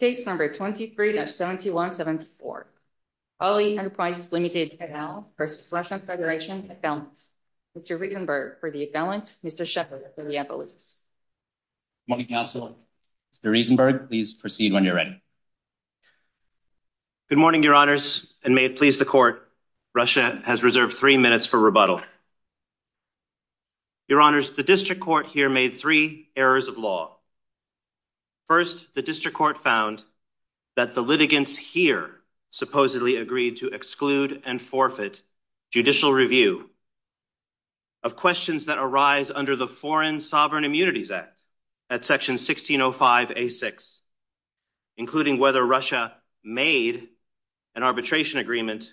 Case number 23-7174. Hulley Enterprises Ltd. v. Russian Federation. Mr. Reisenberg for the affidavit. Mr. Shepherd for the evidence. Good morning, counsel. Mr. Reisenberg, please proceed when you're ready. Good morning, your honors, and may it please the court. Russia has reserved three minutes for rebuttal. Your honors, the district court here made three errors of law. First, the district court found that the litigants here supposedly agreed to exclude and forfeit judicial review of questions that arise under the Foreign Sovereign Immunities Act at Section 1605A6, including whether Russia made an arbitration agreement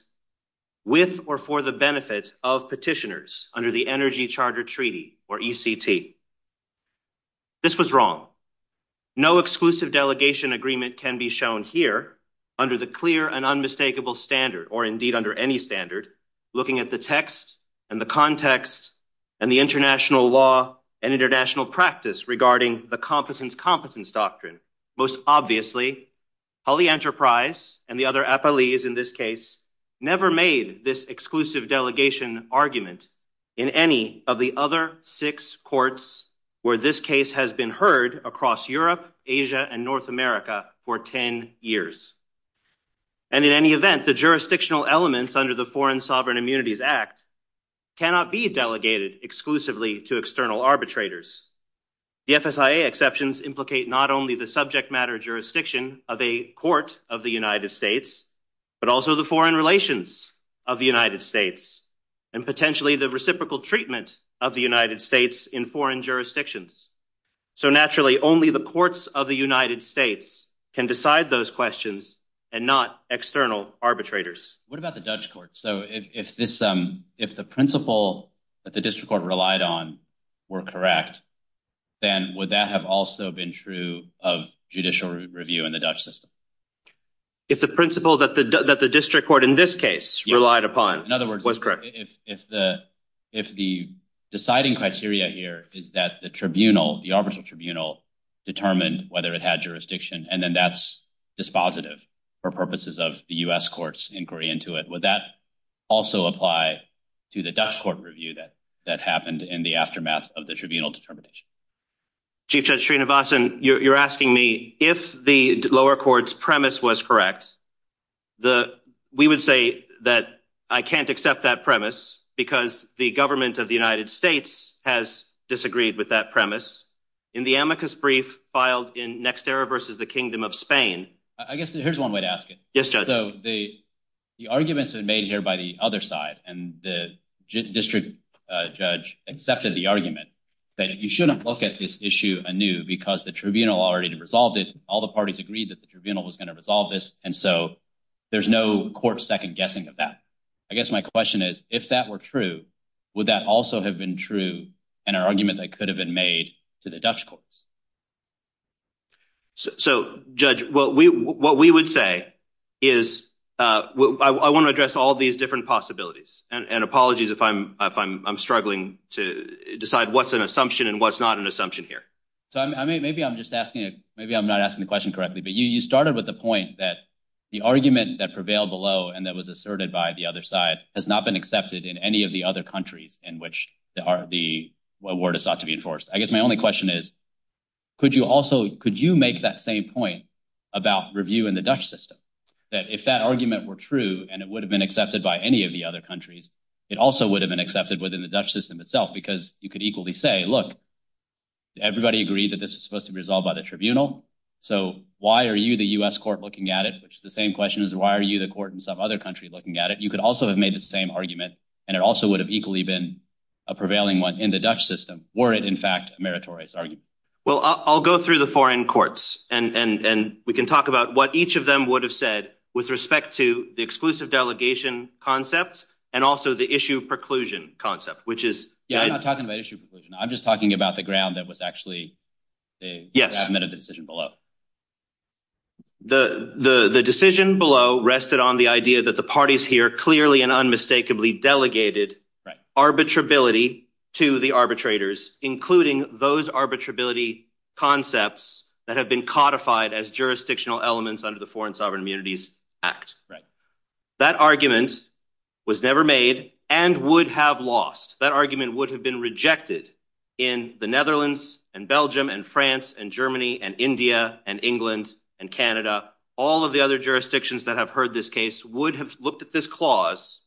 with or for the benefit of petitioners under the Energy Charter Treaty, or ECT. This was wrong. No exclusive delegation agreement can be shown here under the clear and unmistakable standard, or indeed under any standard, looking at the text and the context and the international law and international practice regarding the competence-competence doctrine. Most obviously, Hulley Enterprise and the other appellees in this case never made this exclusive delegation argument in any of the other six courts where this case has been heard across Europe, Asia, and North America for 10 years. And in any event, the jurisdictional elements under the Foreign Sovereign Immunities Act cannot be delegated exclusively to external arbitrators. The FSIA exceptions implicate not only the subject matter jurisdiction of a court of the United States, but also the foreign relations of the United States, and potentially the reciprocal treatment of the United States in foreign jurisdictions. So naturally, only the courts of the United States can decide those questions and not external arbitrators. What about the Dutch courts? So if the principle that the district court relied on were correct, then would that have also been true of judicial review in the Dutch system? If the principle that the district court in this case relied upon was correct. In other words, if the deciding criteria here is that the tribunal, the arbitral tribunal, determined whether it had jurisdiction, and then that's dispositive for purposes of the U.S. inquiry into it, would that also apply to the Dutch court review that happened in the aftermath of the tribunal determination? Chief Judge Srinivasan, you're asking me if the lower court's premise was correct. We would say that I can't accept that premise because the government of the United States has disagreed with that premise in the amicus brief filed in NextEra versus the Kingdom of Spain. I guess here's one way to ask it. Yes, Judge. So the arguments have been made here by the other side, and the district judge accepted the argument that you shouldn't look at this issue anew because the tribunal already resolved it. All the parties agreed that the tribunal was going to resolve this, and so there's no court second guessing of that. I guess my question is, if that were true, would that also have been true in an argument that could have been made to the Dutch courts? So, Judge, what we would say is I want to address all these different possibilities, and apologies if I'm struggling to decide what's an assumption and what's not an assumption here. So maybe I'm not asking the question correctly, but you started with the point that the argument that prevailed below and that was asserted by the has not been accepted in any of the other countries in which the award is sought to be enforced. I guess my only question is, could you make that same point about review in the Dutch system, that if that argument were true and it would have been accepted by any of the other countries, it also would have been accepted within the Dutch system itself because you could equally say, look, everybody agreed that this was supposed to be resolved by the tribunal, so why are you the U.S. court looking at it, which is the same question as why are you the court in some other country looking at it? You could also have made the same argument and it also would have equally been a prevailing one in the Dutch system, were it in fact a meritorious argument. Well, I'll go through the foreign courts and we can talk about what each of them would have said with respect to the exclusive delegation concepts and also the issue preclusion concept, which is... Yeah, I'm not talking about issue preclusion, I'm just talking about the ground that was actually admitted in the decision below. The decision below rested on the idea that the parties here clearly and unmistakably delegated arbitrability to the arbitrators, including those arbitrability concepts that have been codified as jurisdictional elements under the Foreign Sovereign Immunities Act. That argument was never made and would have lost. That argument would have been rejected in the Netherlands and Belgium and France and Germany and India and England and Canada. All of the other jurisdictions that have heard this case would have looked at this clause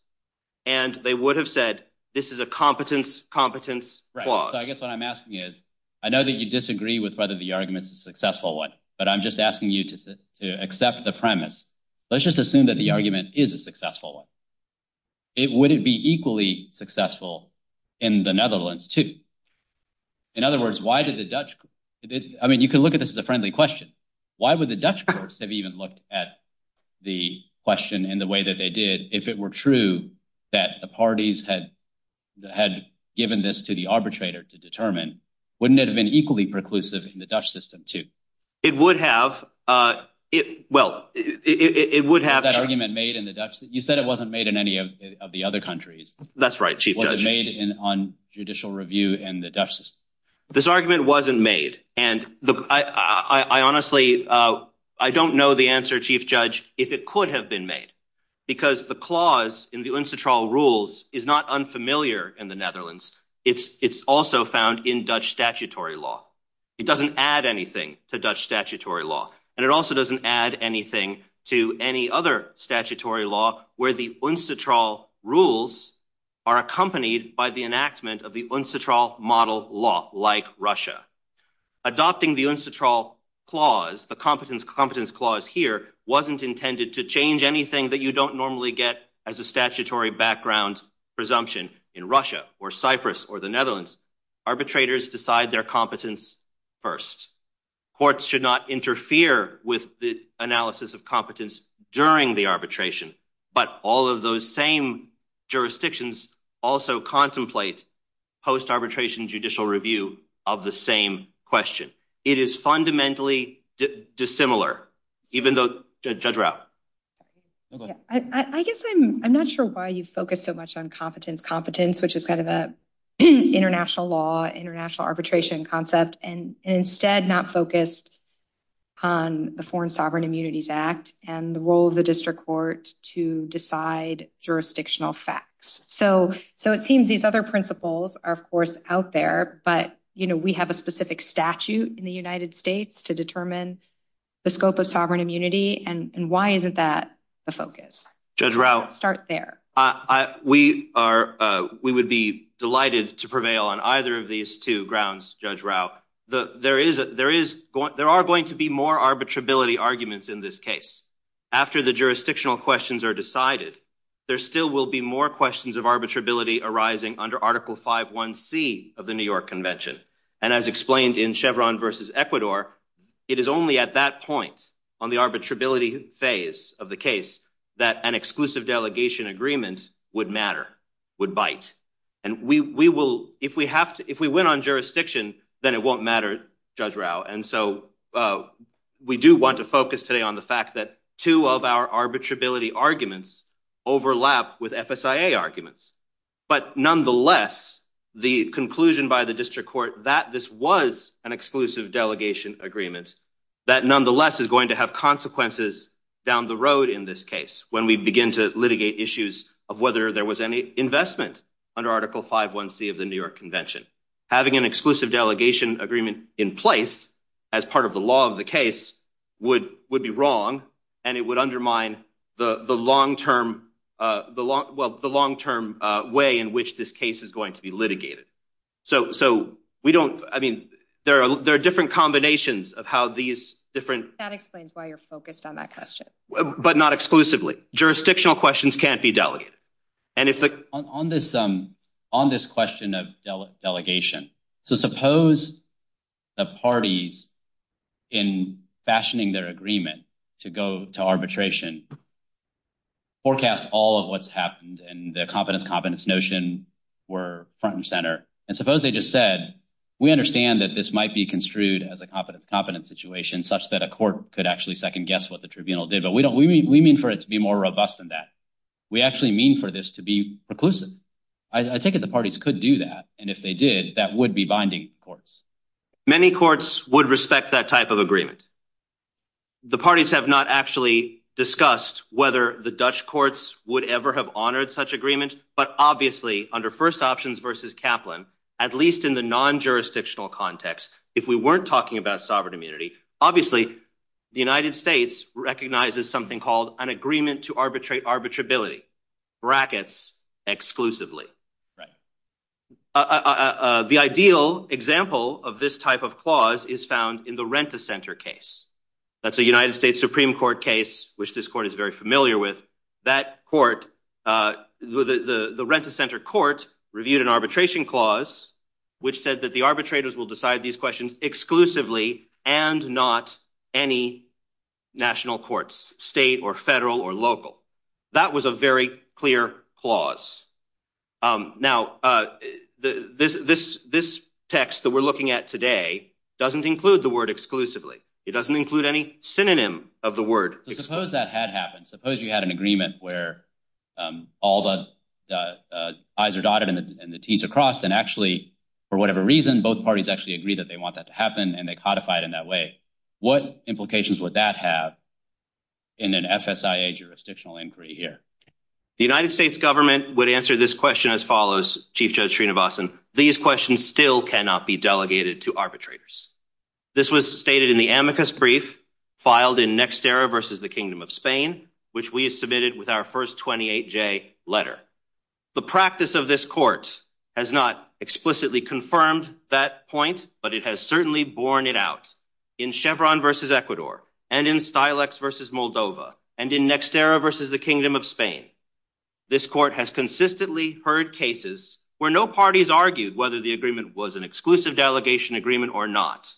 and they would have said this is a competence-competence clause. I guess what I'm asking is, I know that you disagree with whether the argument is a successful one, but I'm just asking you to accept the premise. Let's just assume that the argument is a successful one. Would it be equally successful in the Netherlands too? In other words, why did the Dutch... I mean, you can look at this as a friendly question. Why would the Dutch courts have even looked at the question in the way that they did if it were true that the parties had given this to the arbitrator to determine? Wouldn't it have been equally preclusive in the Dutch system too? It would have. Well, it would have... You said it wasn't made in any of the other countries. That's right, Chief Judge. Was it made on judicial review in the Dutch system? This argument wasn't made and I honestly, I don't know the answer, Chief Judge, if it could have been made because the clause in the Unsettraal Rules is not unfamiliar in the Netherlands. It's also found in Dutch statutory law. It doesn't add anything to Dutch statutory law and it also doesn't add anything to any other statutory law where the Unsettraal Rules are accompanied by the enactment of the Unsettraal Model Law like Russia. Adopting the Unsettraal Clause, the Competence Clause here, wasn't intended to change anything that you don't normally get as a statutory background presumption in Russia or Cyprus or the Netherlands. Arbitrators decide their competence first. Courts should not interfere with the analysis of competence during the arbitration, but all of those same jurisdictions also contemplate post-arbitration judicial review of the same question. It is fundamentally dissimilar, even though... Judge Rao. I guess I'm not sure why you focus so much on competence, competence, which is kind of a international law, international arbitration concept, and instead not focused on the Foreign Sovereign Immunities Act and the role of the district court to decide jurisdictional facts. So it seems these other principles are, of course, out there, but we have a specific statute in the United States to determine the scope of sovereign immunity and why isn't that focus? Judge Rao. Start there. We would be delighted to prevail on either of these two grounds, Judge Rao. There are going to be more arbitrability arguments in this case. After the jurisdictional questions are decided, there still will be more questions of arbitrability arising under Article 5.1c of the New York Convention. And as explained in Chevron versus Ecuador, it is only at that on the arbitrability phase of the case that an exclusive delegation agreement would matter, would bite. And we will, if we have to, if we win on jurisdiction, then it won't matter, Judge Rao. And so we do want to focus today on the fact that two of our arbitrability arguments overlap with FSIA arguments. But nonetheless, the conclusion by the district court that this was an exclusive delegation agreement, that nonetheless is going to have consequences down the road in this case when we begin to litigate issues of whether there was any investment under Article 5.1c of the New York Convention. Having an exclusive delegation agreement in place as part of the law of the case would be wrong, and it would undermine the long-term way in which this case is going to be litigated. So we don't, I mean, there are different combinations of how these different... That explains why you're focused on that question. But not exclusively. Jurisdictional questions can't be delegated. On this question of delegation, so suppose the parties, in fashioning their agreement to go to arbitration, forecast all of what's happened and the competence-competence notion were front and center. And suppose they just said, we understand that this might be construed as a competence-competence situation such that a court could actually second-guess what the tribunal did. But we mean for it to be more robust than that. We actually mean for this to be reclusive. I take it the parties could do that. And if they did, that would be binding courts. Many courts would respect that type of agreement. The parties have not actually discussed whether the Dutch courts would ever have honored such agreement, but obviously under first options versus Kaplan, at least in the non-jurisdictional context, if we weren't talking about sovereign immunity, obviously the United States recognizes something called an agreement to arbitrate arbitrability, brackets exclusively. The ideal example of this type of clause is found in the Rent-a-Center case. That's a United States Supreme Court case, which this court is very familiar with. That court, the Rent-a-Center court reviewed an arbitration clause, which said that the arbitrators will decide these questions exclusively and not any national courts, state or federal or local. That was a very clear clause. Now, this text that we're looking at today doesn't include the word exclusively. It doesn't include the word arbitration. So, suppose that had happened. Suppose you had an agreement where all the I's are dotted and the T's are crossed, and actually, for whatever reason, both parties actually agree that they want that to happen and they codify it in that way. What implications would that have in an FSIA jurisdictional inquiry here? The United States government would answer this question as follows, Chief Judge Srinivasan. These questions still cannot be delegated to arbitrators. This was stated in the amicus brief filed in Nexterra v. The Kingdom of Spain, which we submitted with our first 28-J letter. The practice of this court has not explicitly confirmed that point, but it has certainly borne it out in Chevron v. Ecuador and in Stilex v. Moldova and in Nexterra v. The Kingdom of Spain. This court has consistently heard cases where no parties argued whether the agreement was an exclusive delegation agreement or not.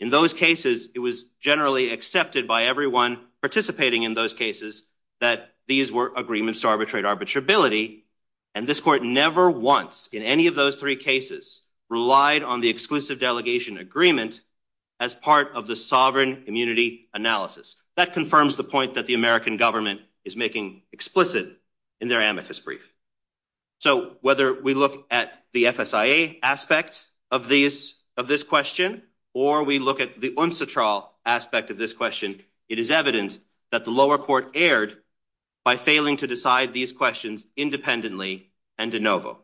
In those cases, it was generally accepted by everyone participating in those cases that these were agreements to arbitrate arbitrability, and this court never once, in any of those three cases, relied on the exclusive delegation agreement as part of the sovereign immunity analysis. That confirms the point that the in their amicus brief. So whether we look at the FSIA aspect of this question, or we look at the UNSATRAL aspect of this question, it is evident that the lower court erred by failing to decide these questions independently and de novo.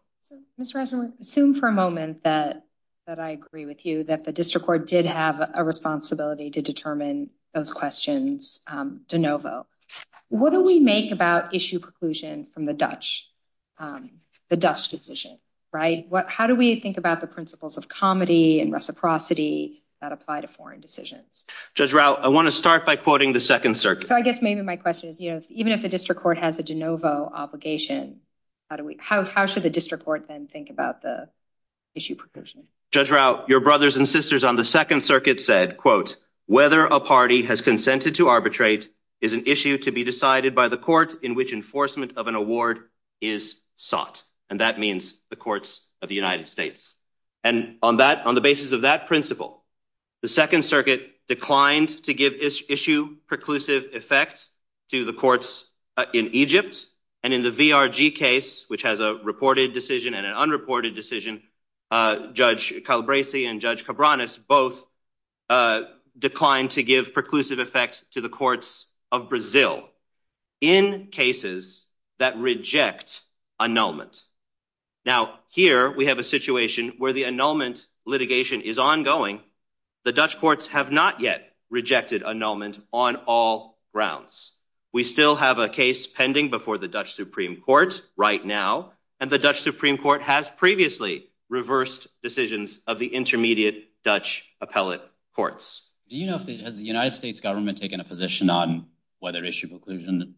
Mr. Eisenhower, assume for a moment that I agree with you that the district court did have a responsibility to determine those questions de novo. What do we make about issue preclusion from the Dutch decision, right? How do we think about the principles of comedy and reciprocity that apply to foreign decisions? Judge Rao, I want to start by quoting the Second Circuit. So I guess maybe my question is, you know, even if the district court has a de novo obligation, how should the district court then think about the issue preclusion? Judge Rao, your brothers and sisters on the Second Circuit said, whether a party has consented to arbitrate is an issue to be decided by the court in which enforcement of an award is sought. And that means the courts of the United States. And on that, on the basis of that principle, the Second Circuit declined to give issue preclusive effect to the courts in Egypt. And in the VRG case, which has a reported decision and an unreported decision, Judge Calabrese and Judge Cabranes both declined to give preclusive effect to the courts of Brazil in cases that reject annulment. Now, here we have a situation where the annulment litigation is ongoing. The Dutch courts have not yet rejected annulment on all grounds. We still have a case pending before the Dutch Supreme Court right now. And the Dutch Supreme Court has previously reversed decisions of the intermediate Dutch appellate courts. Do you know, has the United States government taken a position on whether issue preclusion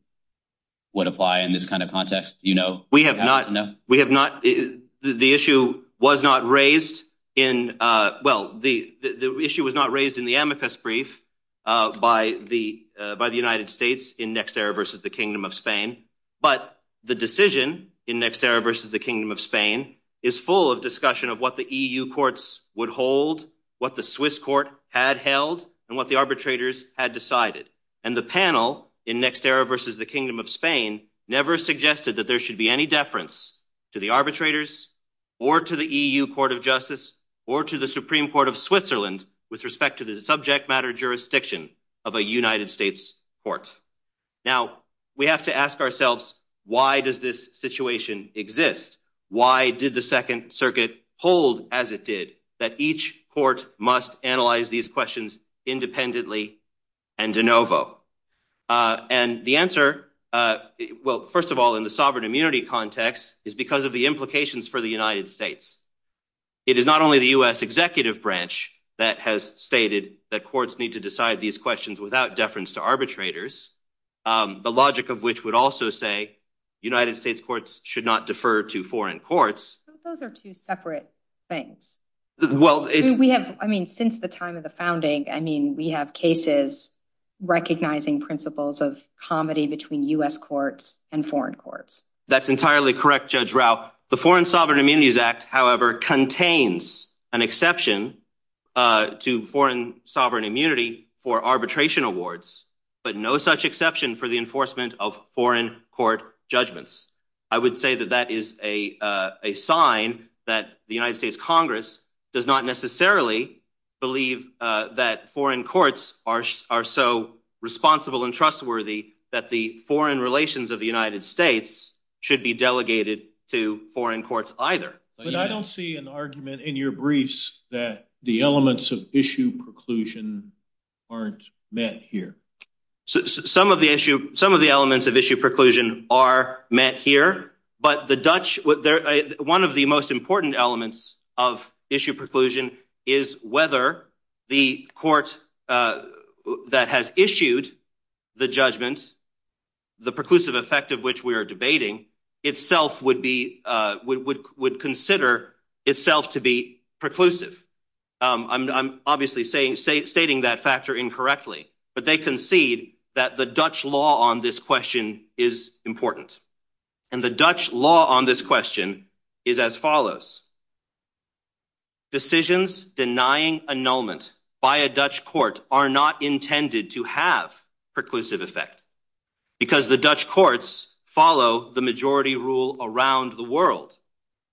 would apply in this kind of context? Do you know? We have not. We have not. The issue was not raised in, well, the issue was not raised in the amicus brief by the United States in Nexterra versus the Kingdom of Spain. But the decision in Nexterra versus the Kingdom of Spain is full of discussion of what the EU courts would hold, what the Swiss court had held, and what the arbitrators had decided. And the panel in Nexterra versus the Kingdom of Spain never suggested that there should be any deference to the arbitrators or to the EU Court of Justice or to the Supreme Court of Switzerland with respect to the subject matter jurisdiction of a United States court. Now, we have to ask ourselves, why does this situation exist? Why did the Second Circuit hold as it did that each court must analyze these questions independently and de novo? And the answer, well, first of all, in the sovereign immunity context is because of the implications for the United States. It is not only the U.S. executive branch that has stated that courts need to decide these questions without deference to arbitrators, the logic of which would also say United States courts should not defer to foreign courts. Those are two separate things. Well, we have, I mean, since the time of the founding, I mean, we have cases recognizing principles of comedy between U.S. courts and foreign courts. That's entirely correct, Judge Rao. The Foreign Sovereign Immunities Act, however, contains an exception to foreign sovereign immunity for arbitration awards, but no such exception for the enforcement of foreign court judgments. I would say that that is a sign that the United States Congress does not necessarily believe that foreign courts are so responsible and trustworthy that the foreign relations of the United States should be delegated to foreign courts either. But I don't see an argument in your briefs that the elements of issue preclusion aren't met here. Some of the elements of issue preclusion are met here, but the Dutch, one of the most important elements of issue preclusion is whether the court that has issued the judgment, the preclusive effect of which we are debating, itself would consider itself to be preclusive. I'm obviously stating that factor incorrectly, but they concede that the Dutch law on this question is important. And the Dutch law on this question is as follows. Decisions denying annulment by a Dutch court are not intended to have preclusive effect because the Dutch courts follow the majority rule around the world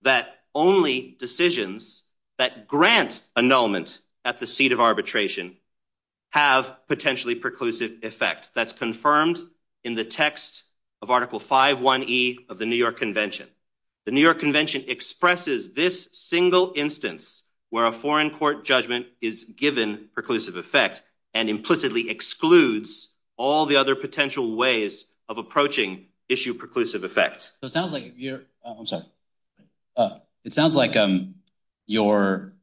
that only decisions that grant annulment at the seat of arbitration have potentially preclusive effect. That's confirmed in the text of Article 5.1.e of the New York Convention. The New York Convention expresses this single instance where a foreign court judgment is given preclusive effect and implicitly excludes all the other potential ways of approaching issue preclusive effect. So it sounds like you're, I'm sorry, it sounds like you're,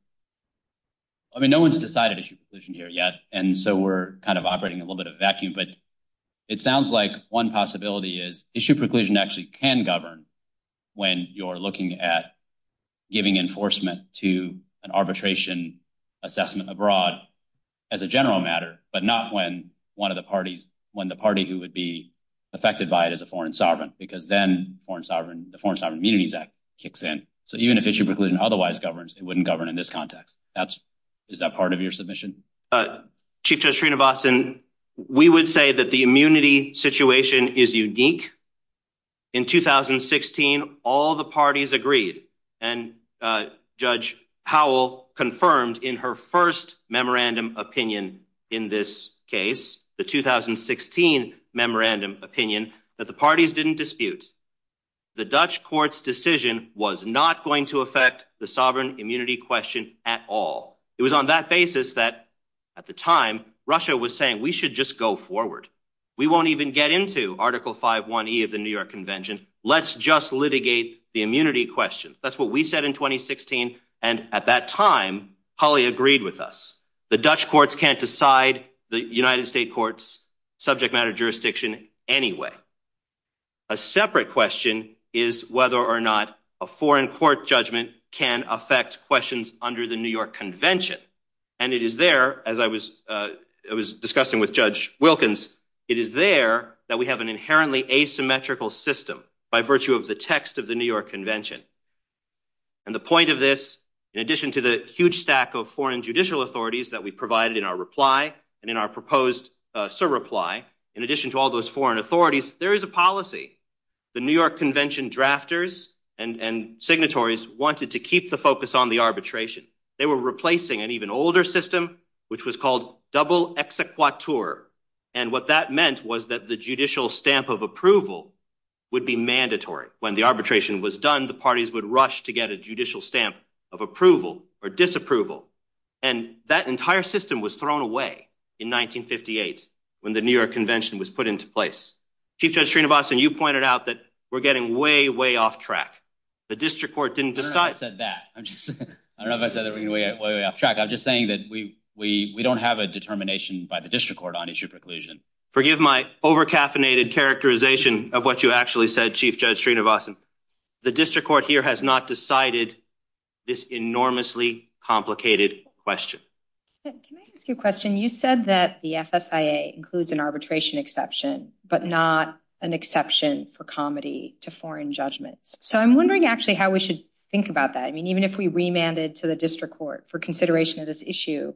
I mean, no one's decided issue preclusion here yet, and so we're kind of operating in a little bit of a vacuum, but it sounds like one possibility is issue preclusion actually can govern when you're looking at giving enforcement to an arbitration assessment abroad as a general matter, but not when one of the parties, when the party who would be affected by it as a foreign sovereign, because then foreign sovereign, the Foreign Sovereign Immunities Act kicks in. So even if issue preclusion otherwise it wouldn't govern in this context. Is that part of your submission? Chief Judge Srinivasan, we would say that the immunity situation is unique. In 2016, all the parties agreed, and Judge Howell confirmed in her first memorandum opinion in this case, the 2016 memorandum opinion, that the parties didn't dispute. The Dutch court's decision was not going to affect the sovereign immunity question at all. It was on that basis that, at the time, Russia was saying, we should just go forward. We won't even get into Article 5.1E of the New York Convention. Let's just litigate the immunity question. That's what we said in 2016, and at that time, Holly agreed with us. The Dutch courts can't decide the United States courts subject matter jurisdiction anyway. A separate question is whether or not a foreign court judgment can affect questions under the New York Convention. And it is there, as I was discussing with Judge Wilkins, it is there that we have an inherently asymmetrical system by virtue of the text of the New York Convention. And the point of this, in addition to the huge stack of foreign in addition to all those foreign authorities, there is a policy. The New York Convention drafters and signatories wanted to keep the focus on the arbitration. They were replacing an even older system, which was called double exequatur. And what that meant was that the judicial stamp of approval would be mandatory. When the arbitration was done, the parties would rush to get a judicial stamp of approval or disapproval. And that entire system was thrown away in 1958, when the New York Convention was put into place. Chief Judge Sreenivasan, you pointed out that we're getting way, way off track. The district court didn't decide that. I don't know if I said that we're getting way off track. I'm just saying that we don't have a determination by the district court on issue preclusion. Forgive my over caffeinated characterization of what you actually said, Chief Judge Sreenivasan. The district court here has not decided this enormously complicated question. Can I ask you a question? You said that the FSIA includes an arbitration exception, but not an exception for comedy to foreign judgments. So I'm wondering actually how we should think about that. I mean, even if we remanded to the district court for consideration of this issue.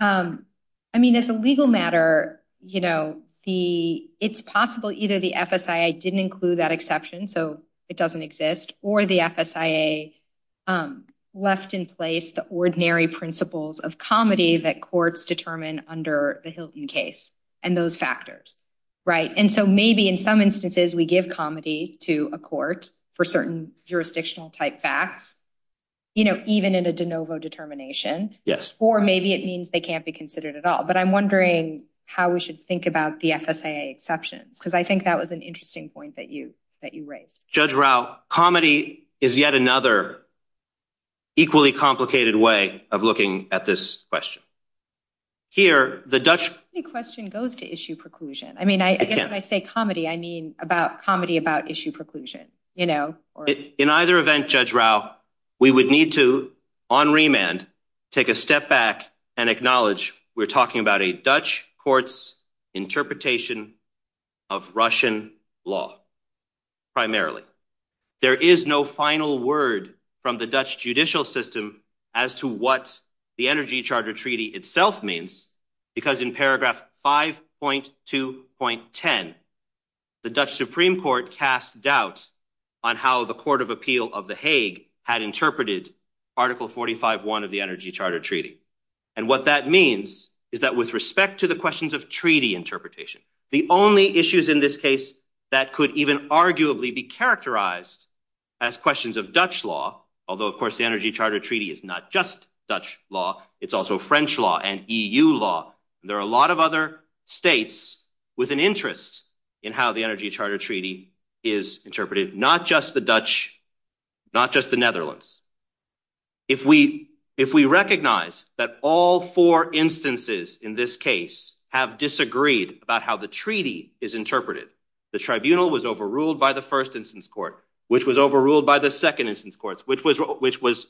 I mean, as a legal matter, it's possible either the FSIA didn't include that exception, so it doesn't exist, or the FSIA left in place the ordinary principles of comedy that courts determine under the Hilton case and those factors. And so maybe in some instances we give comedy to a court for certain jurisdictional type facts, even in a de novo determination, or maybe it means they can't be considered at all. But I'm wondering how we should think about the FSIA exceptions, because I think that was an interesting point that you that you raised. Judge Rao, comedy is yet another equally complicated way of looking at this question. Here, the Dutch question goes to issue preclusion. I mean, I guess when I say comedy, I mean about comedy about issue preclusion, you know. In either event, Judge Rao, we would need to, on remand, take a step back and acknowledge we're talking about a Dutch court's interpretation of Russian law, primarily. There is no final word from the Dutch judicial system as to what the Energy Charter Treaty itself means, because in paragraph 5.2.10, the Dutch Supreme Court cast doubt on how the Court of Appeal of The Hague had interpreted Article 45.1 of the Energy Charter Treaty. And what that means is that with respect to the questions of treaty interpretation, the only issues in this case that could even arguably be characterized as questions of Dutch law, although of course the Energy Charter Treaty is not just Dutch law, it's also French law and EU law, there are a lot of other states with an interest in how the Energy Charter Treaty is interpreted, not just the Dutch, not just the Netherlands. If we recognize that all four instances in this case have disagreed about how the treaty is interpreted, the tribunal was overruled by the first instance court, which was overruled by the second instance courts, which was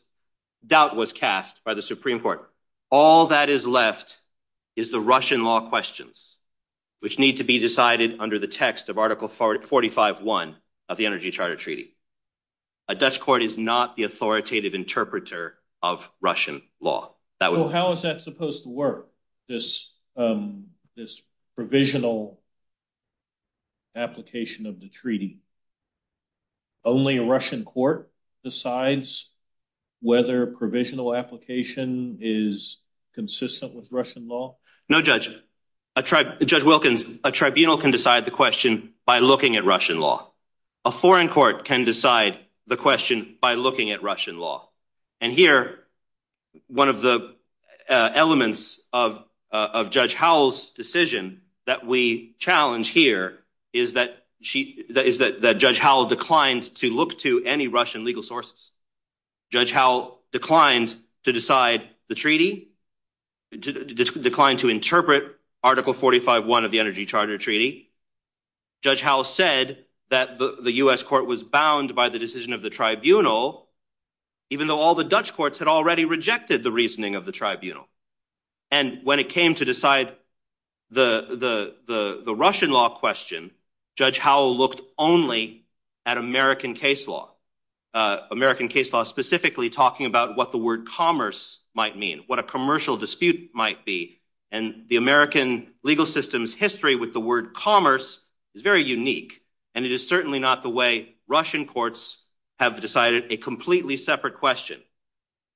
doubt was cast by the Supreme Court. All that is left is the Russian law questions, which need to be under the text of Article 45.1 of the Energy Charter Treaty. A Dutch court is not the authoritative interpreter of Russian law. So how is that supposed to work, this provisional application of the treaty? Only a Russian court decides whether a provisional application is consistent with Russian law? No, Judge. Judge Wilkins, a tribunal can decide the question by looking at Russian law. A foreign court can decide the question by looking at Russian law. And here, one of the elements of Judge Howell's decision that we challenge here is that Judge Howell declined to look to any Russian legal sources. Judge Howell declined to decide the treaty, declined to interpret Article 45.1 of the Energy Charter Treaty. Judge Howell said that the U.S. court was bound by the decision of the tribunal, even though all the Dutch courts had already rejected the reasoning of the tribunal. And when it came to decide the Russian law question, Judge Howell looked only at American case law, American case law specifically talking about what the word commerce might mean, what a commercial dispute might be. And the American legal system's history with the word commerce is very unique, and it is certainly not the way Russian courts have decided a completely separate question.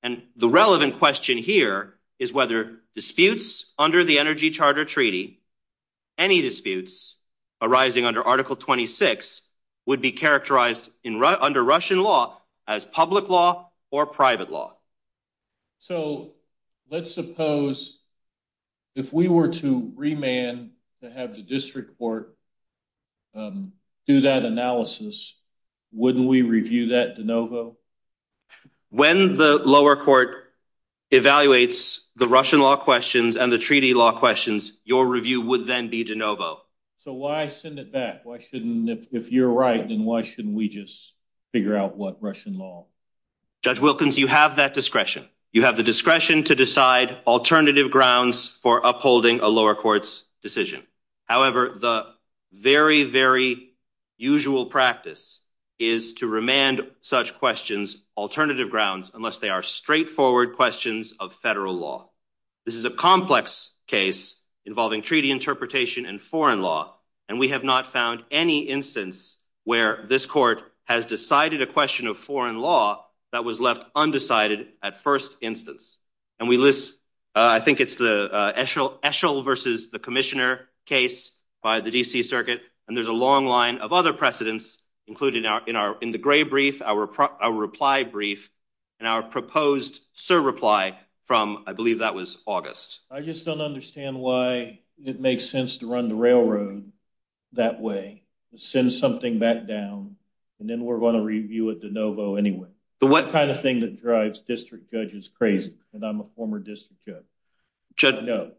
And the relevant question here is whether disputes under the Energy Charter Treaty, any disputes arising under Article 26, would be characterized under Russian law as public law or private law. So let's suppose if we were to remand to have the district court do that analysis, wouldn't we review that de novo? When the lower court evaluates the Russian law questions and the treaty law questions, your review would then be de novo. So why send it back? Why shouldn't, if you're right, then why shouldn't we just figure out what Russian law? Judge Wilkins, you have that discretion. You have the discretion to decide alternative grounds for upholding a lower court's decision. However, the very, very usual practice is to remand such questions alternative grounds unless they are straightforward questions of federal law. This is a complex case involving treaty interpretation and foreign law, and we have not found any instance where this court has decided a question of foreign law that was left undecided at first instance. And we list, I think it's the Eshel versus the Commissioner case by the D.C. Circuit, and there's a long line of other precedents included in the gray brief, our reply brief, and our proposed surreply from, I believe that was August. I just don't understand why it makes sense to run the railroad that way. Send something back down, and then we're going to review it de novo anyway. The kind of thing that drives district judges crazy, and I'm a former district judge. No.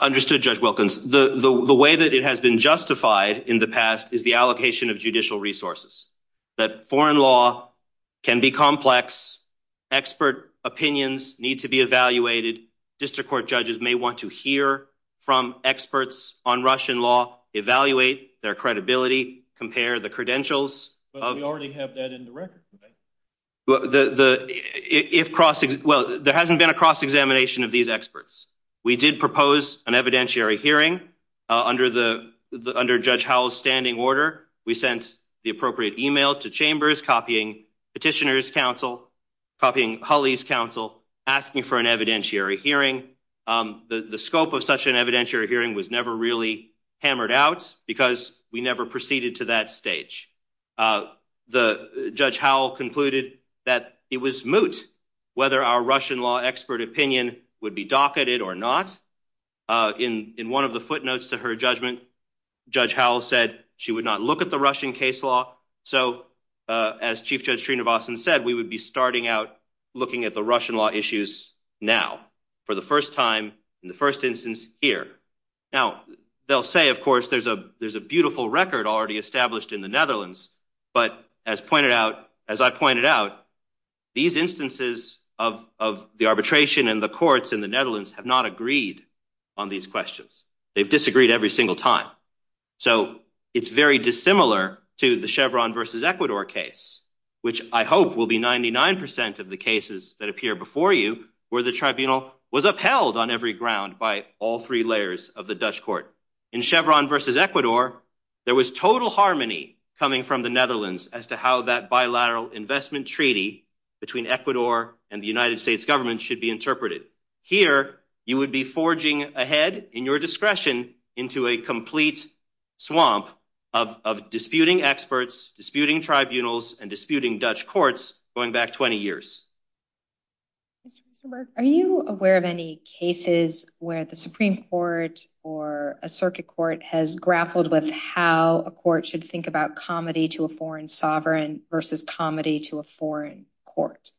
Understood, Judge Wilkins. The way that it has been justified in the past is the allocation of judicial resources, that foreign law can be complex. Expert opinions need to be evaluated. District court judges may want to hear from experts on Russian law, evaluate their credibility, compare the credentials. But we already have that in the record. Well, there hasn't been a cross-examination of these experts. We did propose an evidentiary hearing under Judge Howell's standing order. We sent the appropriate email to chambers, copying Petitioner's counsel, copying Hulley's counsel, asking for an evidentiary hearing. The scope of such an evidentiary hearing was never really hammered out because we never proceeded to that stage. Judge Howell concluded that it was moot whether our Russian law expert opinion would be docketed or not. In one of the footnotes to her judgment, Judge Howell said she would not look at the Russian case law. So as Chief Judge Trinovason said, we would be starting out looking at the Russian law issues now, for the first time, in the first instance here. Now, they'll say, of course, there's a beautiful record already established in the Netherlands. But as I pointed out, these instances of the arbitration and the courts in the Netherlands have not agreed on these questions. They've disagreed every single time. So it's very dissimilar to the Chevron versus Ecuador case, which I hope will be 99 percent of the cases that appear before you, where the tribunal was upheld on every ground by all three layers of the Dutch court. In Chevron versus Ecuador, there was total harmony coming from the Netherlands as to how that bilateral investment treaty between Ecuador and the United States government should be interpreted. Here, you would be forging ahead in your discretion into a complete swamp of disputing experts, disputing tribunals, and disputing Dutch courts going back 20 years. Mr. Merck, are you aware of any cases where the Supreme Court or a circuit court has grappled with how a court should think about comedy to a foreign sovereign versus comedy to a foreign court?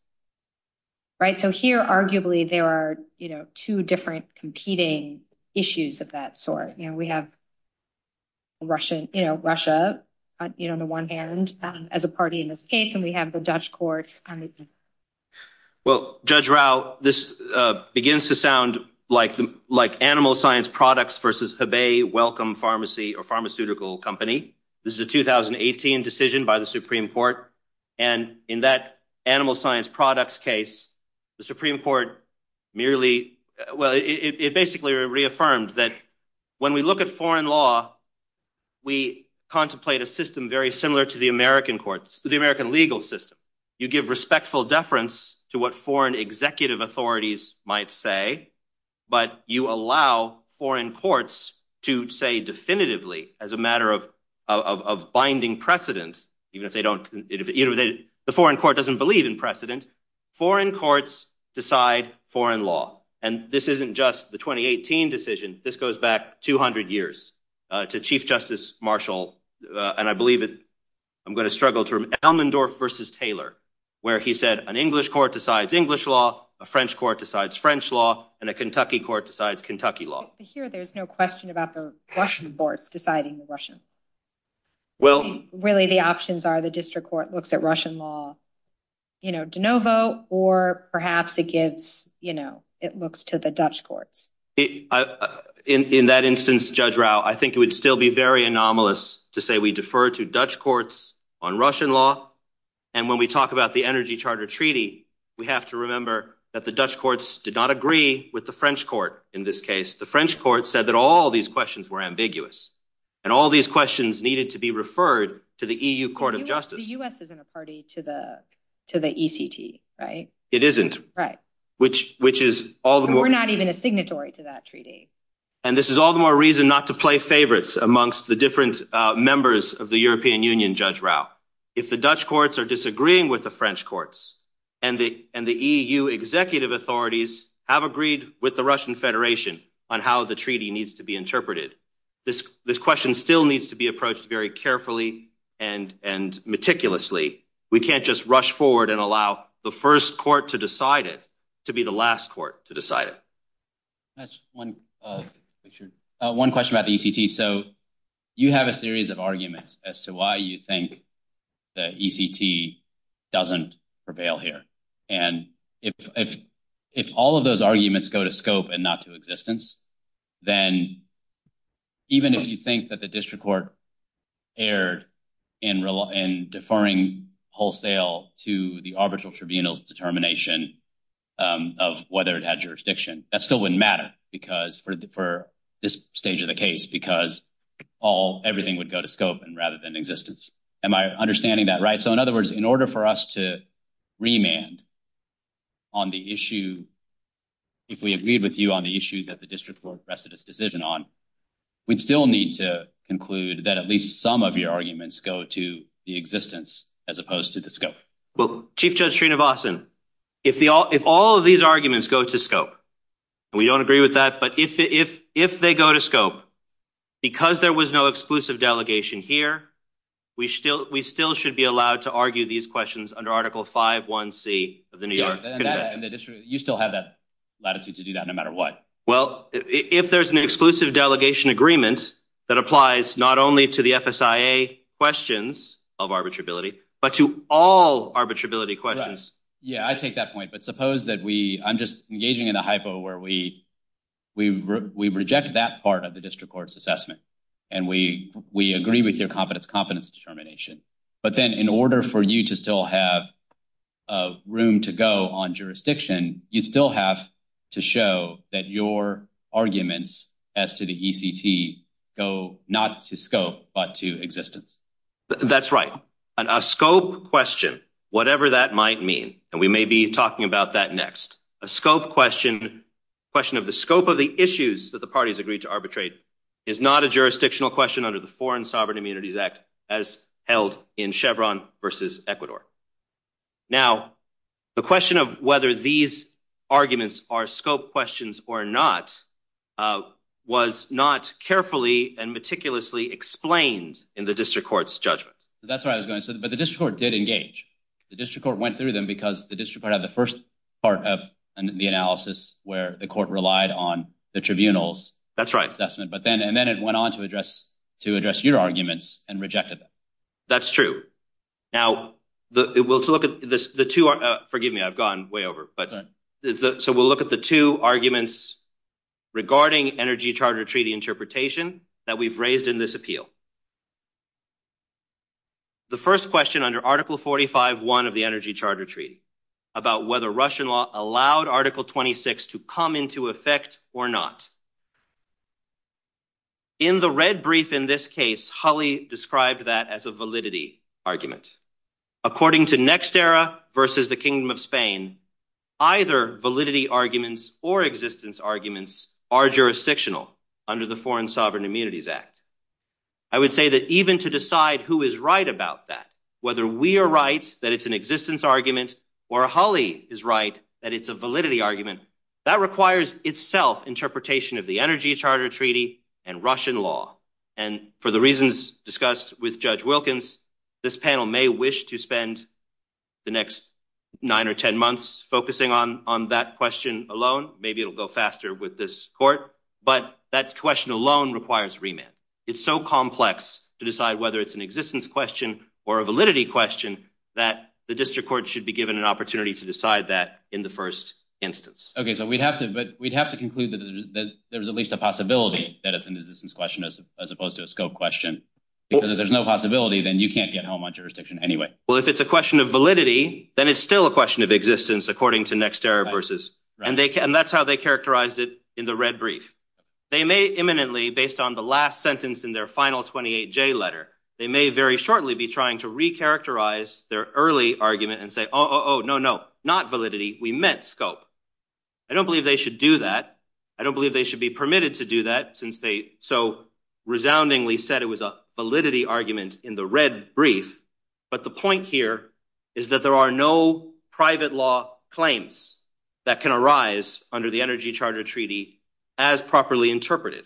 So here, arguably, there are two different competing issues of that sort. We have Russia, on the one hand, as a party in this case, and we have the Dutch courts. Judge Rao, this begins to sound like animal science products versus Hebei Wellcome Pharmacy or pharmaceutical company. This is a 2018 decision by the Supreme Court. In that animal science products case, the Supreme Court basically reaffirmed that when we look at foreign law, we contemplate a system very similar to the American legal system. You give respectful deference to what foreign executive authorities might say, but you allow foreign courts to say definitively, as a matter of binding precedent, even if the foreign court doesn't believe in precedent, foreign courts decide foreign law. And this isn't just the 2018 decision. This goes back 200 years to Chief Justice Marshall, and I believe I'm going to Elmendorf versus Taylor, where he said an English court decides English law, a French court decides French law, and a Kentucky court decides Kentucky law. Here, there's no question about the Russian courts deciding the Russian. Really, the options are the district court looks at Russian law, you know, de novo, or perhaps it looks to the Dutch courts. In that instance, Judge Rao, I think it would still be very anomalous to say we defer to Dutch courts on Russian law. And when we talk about the Energy Charter Treaty, we have to remember that the Dutch courts did not agree with the French court. In this case, the French court said that all these questions were ambiguous. And all these questions needed to be referred to the EU Court of Justice. The US isn't a party to the ECT, right? It isn't. We're not even a signatory to that treaty. And this is all the more reason not to play favorites amongst the different members of the European Union, Judge Rao. If the Dutch courts are disagreeing with the French courts, and the EU executive authorities have agreed with the Russian Federation on how the treaty needs to be interpreted, this question still needs to be approached very carefully and meticulously. We can't just rush forward and allow the first court to decide it, to be the last court to decide it. Can I ask one question about the ECT? So you have a series of arguments as to why you think the ECT doesn't prevail here. And if all of those arguments go to scope and not to existence, then even if you think that the district court erred in deferring wholesale to the arbitral tribunal's determination of whether it had jurisdiction, that still wouldn't matter for this stage of the case, because everything would go to scope rather than existence. Am I understanding that right? So in other words, in order for us to remand on the issue, if we agreed with you on the issue that the district court rested its decision on, we'd still need to conclude that at least some of your arguments go to the existence as opposed to the scope. Well, Chief Judge Srinivasan, if all of these arguments go to scope, and we don't agree with that, but if they go to scope, because there was no exclusive delegation here, we still should be allowed to argue these questions under Article 5.1c of the New York Convention. You still have that latitude to do that no matter what. Well, if there's an exclusive delegation agreement that applies not only to the FSIA questions of arbitrability, but to all arbitrability questions. Yeah, I take that point. But suppose that we, I'm just engaging in a hypo where we reject that part of the district court's assessment, and we agree with your competence determination. But then in order for you to still have room to go on jurisdiction, you still have to show that your arguments as to the ECT go not to scope, but to existence. That's right. And a scope question, whatever that might mean, and we may be talking about that next, a scope question, question of the scope of the issues that the parties agreed to arbitrate, is not a jurisdictional question under the Foreign Sovereign Immunities Act, as held in Chevron versus Ecuador. Now, the question of whether these arguments are scope questions or not was not carefully and meticulously explained in the district court's judgment. That's what I was going to say. But the district court did engage. The district court went through them because the district had the first part of the analysis where the court relied on the tribunal's assessment. And then it went on to address your arguments and rejected them. That's true. Now, we'll look at the two. Forgive me. I've gone way over. So we'll look at the two arguments regarding Energy Charter Treaty interpretation that we've raised in this appeal. The first question under Article 45.1 of the Energy Charter Treaty about whether Russian law allowed Article 26 to come into effect or not. In the red brief in this case, Hulley described that as a validity. According to NextEra versus the Kingdom of Spain, either validity arguments or existence arguments are jurisdictional under the Foreign Sovereign Immunities Act. I would say that even to decide who is right about that, whether we are right that it's an existence argument or Hulley is right that it's a validity argument that requires itself interpretation of the Energy Charter Treaty and Russian law. And for the reasons discussed with Judge Wilkins, this panel may wish to spend the next nine or 10 months focusing on that question alone. Maybe it'll go faster with this court. But that question alone requires remand. It's so complex to decide whether it's an existence question or a validity question that the district court should be given an opportunity to decide that in the first instance. OK, so we'd have to but we'd have to conclude that there's at least a possibility that it's an existence question as opposed to a scope question. Because if there's no possibility, then you can't get home on jurisdiction anyway. Well, if it's a question of validity, then it's still a question of existence, according to NextEra versus and that's how they characterized it in the red brief. They may imminently, based on the last sentence in their final 28J letter, they may very shortly be trying to recharacterize their early argument and say, oh, no, no, not validity. We meant scope. I don't believe they should do that. I don't believe they should be permitted to do that since they so resoundingly said it was a validity argument in the red brief. But the point here is that there are no private law claims that can arise under the Energy Charter Treaty as properly interpreted.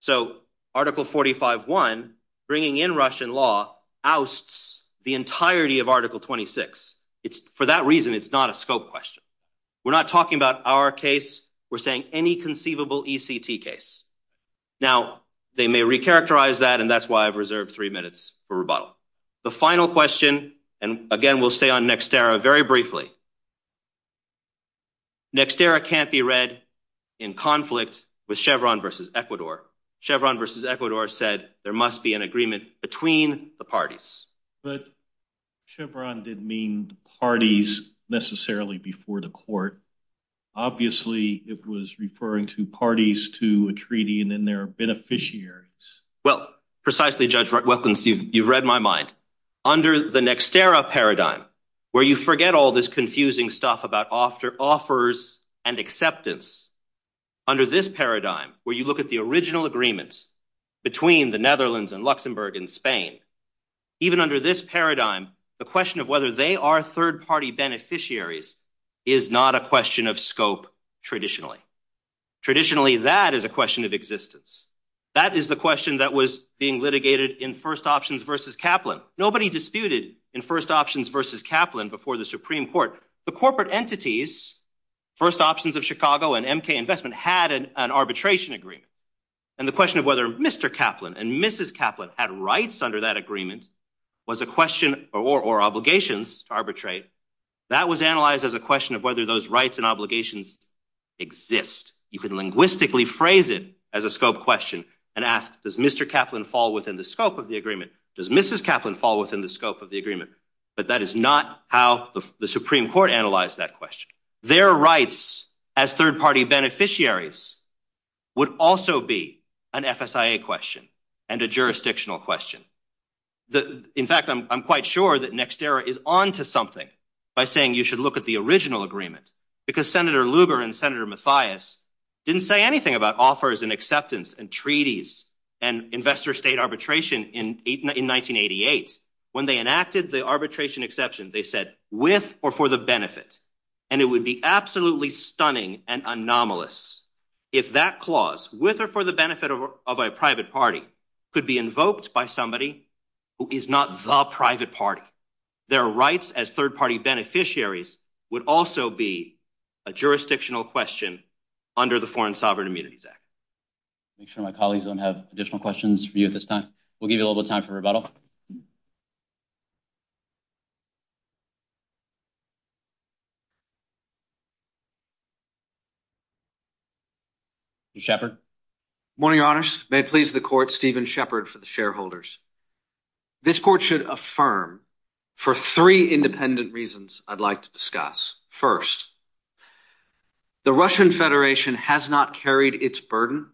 So Article 45.1 bringing in Russian law ousts the entirety of Article 26. It's for that reason. It's not a scope question. We're not talking about our case. We're saying any conceivable ECT case. Now, they may recharacterize that and that's why I've reserved three minutes for rebuttal. The final question, and again, we'll stay on NextEra very briefly. NextEra can't be read in conflict with Chevron versus Ecuador. Chevron versus Ecuador said there must be an agreement between the parties. But Chevron didn't mean parties necessarily before the court. Obviously, it was referring to parties to a treaty and then their beneficiaries. Well, precisely, Judge Weklens, you've read my mind. Under the NextEra paradigm, where you forget all this confusing stuff about offers and acceptance, under this paradigm, where you look at the original agreement between the Netherlands and Luxembourg and Spain, even under this paradigm, the question of whether they are third-party beneficiaries is not a question of scope traditionally. Traditionally, that is a question of existence. That is the question that was being litigated in First Options versus Kaplan. Nobody disputed in First Options versus Kaplan before the Supreme Court. The corporate entities, First Options of Chicago and MK Investment, had an arbitration agreement. And the question of whether Mr. Kaplan and Mrs. Kaplan had rights under that agreement was a question or obligations to arbitrate. That was analyzed as a question of whether those rights and obligations exist. You can linguistically phrase it as a scope question and ask, does Mr. Kaplan fall within the scope of the agreement? Does Mrs. Kaplan fall within the scope of the agreement? But that is not how the Supreme Court analyzed that question. Their rights as third-party beneficiaries would also be an FSIA question and a jurisdictional question. In fact, I'm quite sure that Nexterra is onto something by saying you should look at the original agreement, because Senator Lugar and Senator Mathias didn't say anything about offers and acceptance and treaties and investor-state arbitration in 1988. When they enacted the arbitration exception, they said, with or for the benefit. And it would be absolutely stunning and anomalous if that clause, with or for the benefit of a private party, could be invoked by somebody who is not the private party. Their rights as third-party beneficiaries would also be a jurisdictional question under the Foreign Sovereign Immunities Act. Make sure my colleagues don't have additional questions for you at this time. We'll give you a little bit of time for rebuttal. Mr. Shepherd. Morning, Your Honors. May it please the Court, Stephen Shepherd for the shareholders. This Court should affirm for three independent reasons I'd like to discuss. First, the Russian Federation has not carried its burden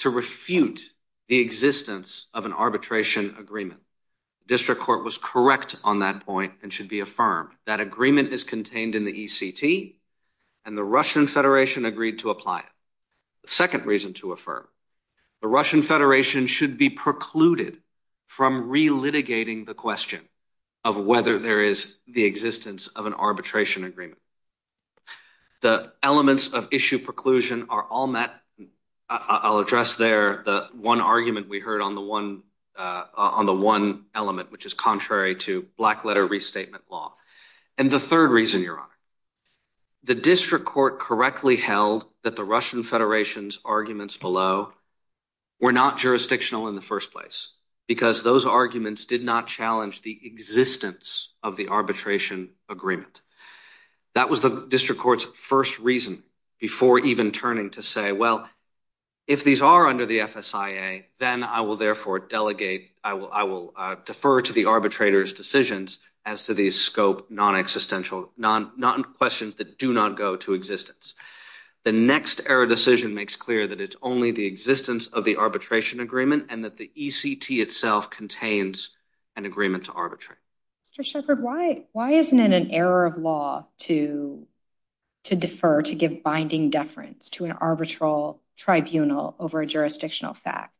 to refute the existence of an arbitration agreement. The District Court was correct on that point and should be affirmed. That agreement is contained in the ECT, and the Russian Federation agreed to apply it. The second reason to affirm, the Russian Federation should be precluded from relitigating the question of whether there is the existence of an arbitration agreement. The elements of issue preclusion are all met. I'll address there the one argument we heard on the one element, which is contrary to black-letter restatement law. And the third reason, Your Honor, the District Court correctly held that Russian Federation's arguments below were not jurisdictional in the first place, because those arguments did not challenge the existence of the arbitration agreement. That was the District Court's first reason before even turning to say, well, if these are under the FSIA, then I will therefore delegate, I will defer to the arbitrator's decisions as to the scope, non-existential, non-questions that do not go to existence. The next error decision makes clear that it's only the existence of the arbitration agreement and that the ECT itself contains an agreement to arbitrate. Mr. Shepard, why isn't it an error of law to defer, to give binding deference to an arbitral tribunal over a jurisdictional fact?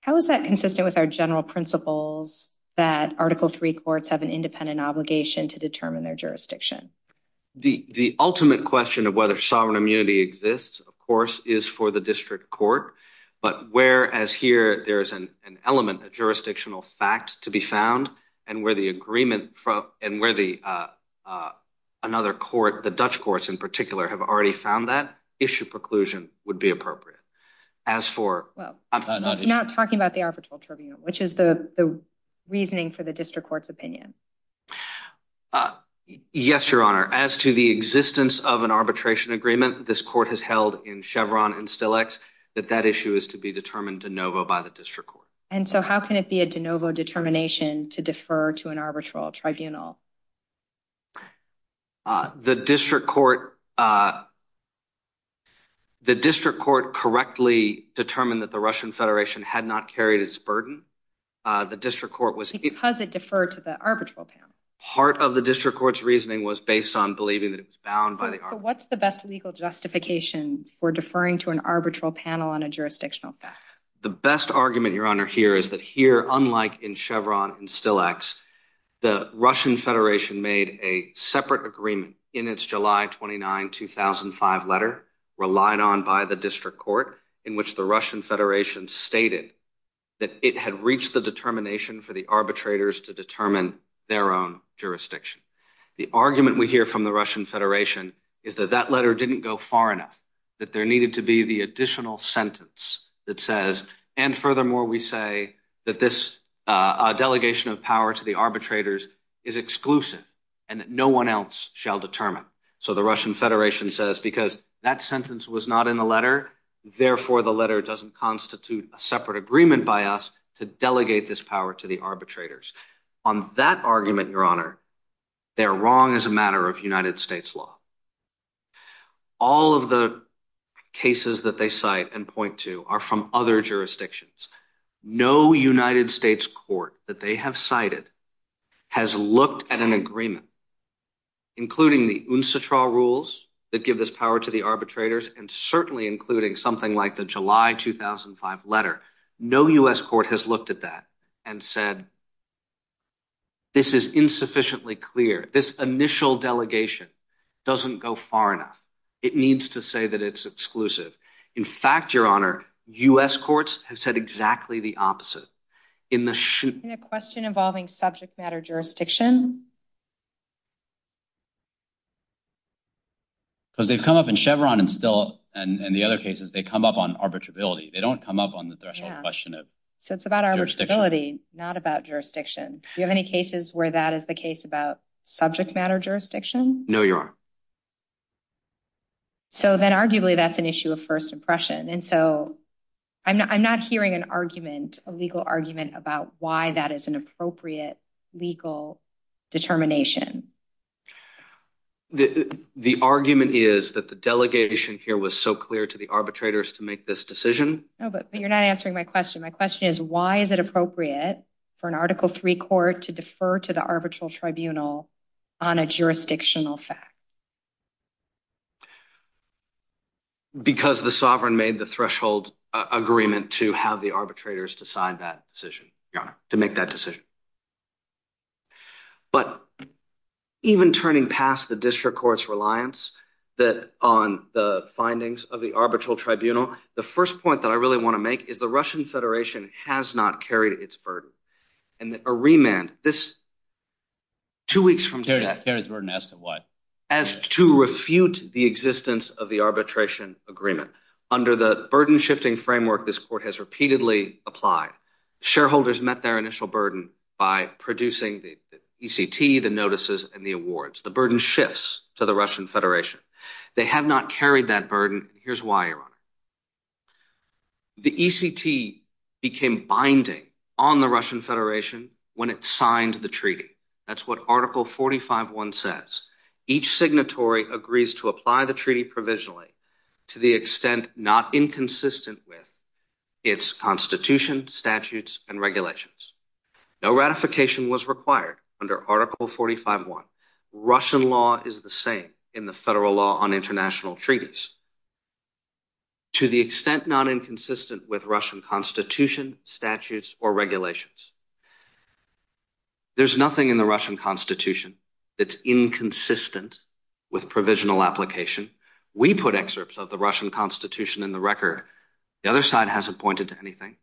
How is that consistent with our general principles that Article III courts have an independent obligation to determine their jurisdiction? The ultimate question of whether sovereign immunity exists, of course, is for the District Court, but whereas here there is an element, a jurisdictional fact to be found, and where the agreement from, and where the, another court, the Dutch courts in particular have already found that, issue preclusion would be appropriate. As for, I'm not talking about the arbitral tribunal, which is the reasoning for the District Court's opinion. Yes, Your Honor. As to the existence of an arbitration agreement, this court has held in Chevron and Stillex that that issue is to be determined de novo by the District Court. And so how can it be a de novo determination to defer to an arbitral tribunal? The District Court, the District Court correctly determined that the Russian Federation had not carried its burden. The District Court was... Because it deferred to the arbitral panel. Part of the District Court's reasoning was based on believing that it was bound by the... So what's the best legal justification for deferring to an arbitral panel on a jurisdictional fact? The best argument, Your Honor, here is that here, unlike in Chevron and Stillex, the Russian Federation made a separate agreement in its July 29, 2005 letter, relied on by the District Court, in which the Russian Federation stated that it had reached the determination for the arbitrators to determine their own jurisdiction. The argument we hear from the Russian Federation is that that letter didn't go far enough, that there needed to be the additional sentence that says... And furthermore, we say that this delegation of power to the arbitrators is exclusive and that no one else shall determine. So the Russian Federation says, because that sentence was not in the letter, therefore the letter doesn't constitute a separate agreement by us to delegate this power to the arbitrators. On that argument, Your Honor, they're wrong as a matter of United States law. All of the cases that they cite and point to are from other jurisdictions. No United States court that they have cited has looked at an agreement, including the UNSATRA rules that give this power to the arbitrators, and certainly including something like the July 2005 letter. No U.S. court has looked at that and said, this is insufficiently clear. This initial delegation doesn't go far enough. It needs to say that it's exclusive. In fact, Your Honor, U.S. courts have said exactly the opposite. In a question involving subject matter jurisdiction? Because they've come up in Chevron and the other cases, they come up on arbitrability. They don't come up on the threshold question of jurisdiction. So it's about arbitrability, not about jurisdiction. Do you have any cases where that is the case about subject matter jurisdiction? No, Your Honor. So then, arguably, that's an issue of first impression. And so I'm not hearing an argument, a legal argument, about why that is an appropriate legal determination. The argument is that the delegation here was so clear to the arbitrators to make this decision. No, but you're not answering my question. My question is, why is it appropriate for an Article III court to defer to the arbitral tribunal on a jurisdictional fact? Because the sovereign made the threshold agreement to have the arbitrators to sign that decision, Your Honor, to make that decision. But even turning past the district court's reliance on the findings of the arbitral tribunal, the first point that I really want to make is the Russian Federation has not carried its burden. And a remand, this two weeks from today— Carried its burden as to what? As to refute the existence of the arbitration agreement. Under the burden-shifting framework this court has repeatedly applied, shareholders met their initial burden by producing the ECT, the notices, and the awards. The burden shifts to the Russian Federation. They have not carried that burden. Here's why, Your Honor. The ECT became binding on the Russian Federation when it signed the treaty. That's what Article 45.1 says. Each signatory agrees to apply the treaty provisionally to the extent not inconsistent with its constitution, statutes, and regulations. No ratification was required under Article 45.1. Russian law is the same in the federal law on international treaties. To the extent not inconsistent with Russian constitution, statutes, or regulations. There's nothing in the Russian constitution that's inconsistent with provisional application. We put excerpts of the Russian constitution in the record. The other side hasn't pointed to anything.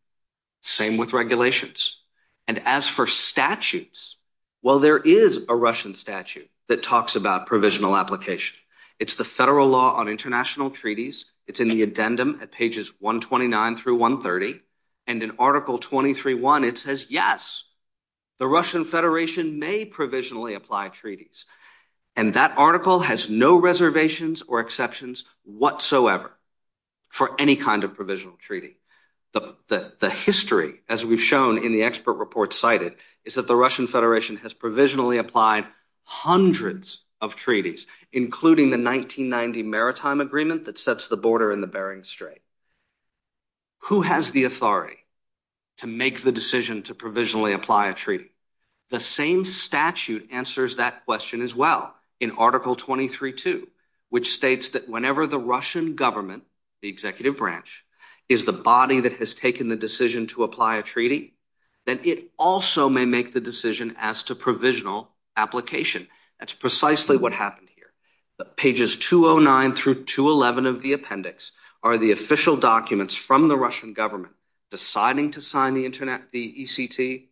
Same with regulations. And as for statutes, well, there is a Russian statute that talks about provisional application. It's the federal law on international treaties. It's in the addendum at pages 129 through 130. And in Article 23.1, it says, yes, the Russian Federation may provisionally apply treaties. And that article has no reservations or exceptions whatsoever for any kind of provisional treaty. The history, as we've shown in the expert report cited, is that the Russian Federation has provisionally applied hundreds of treaties, including the 1990 Maritime Agreement that sets the border in the Bering Strait. Who has the authority to make the decision to provisionally apply a treaty? The same statute answers that question as well in Article 23.2, which states that whenever the Russian government, the executive branch, is the body that has taken the decision to apply a treaty, then it also may make the decision as to provisional application. That's precisely what happened here. Pages 209 through 211 of the appendix are the official documents from the Russian government deciding to sign the ECT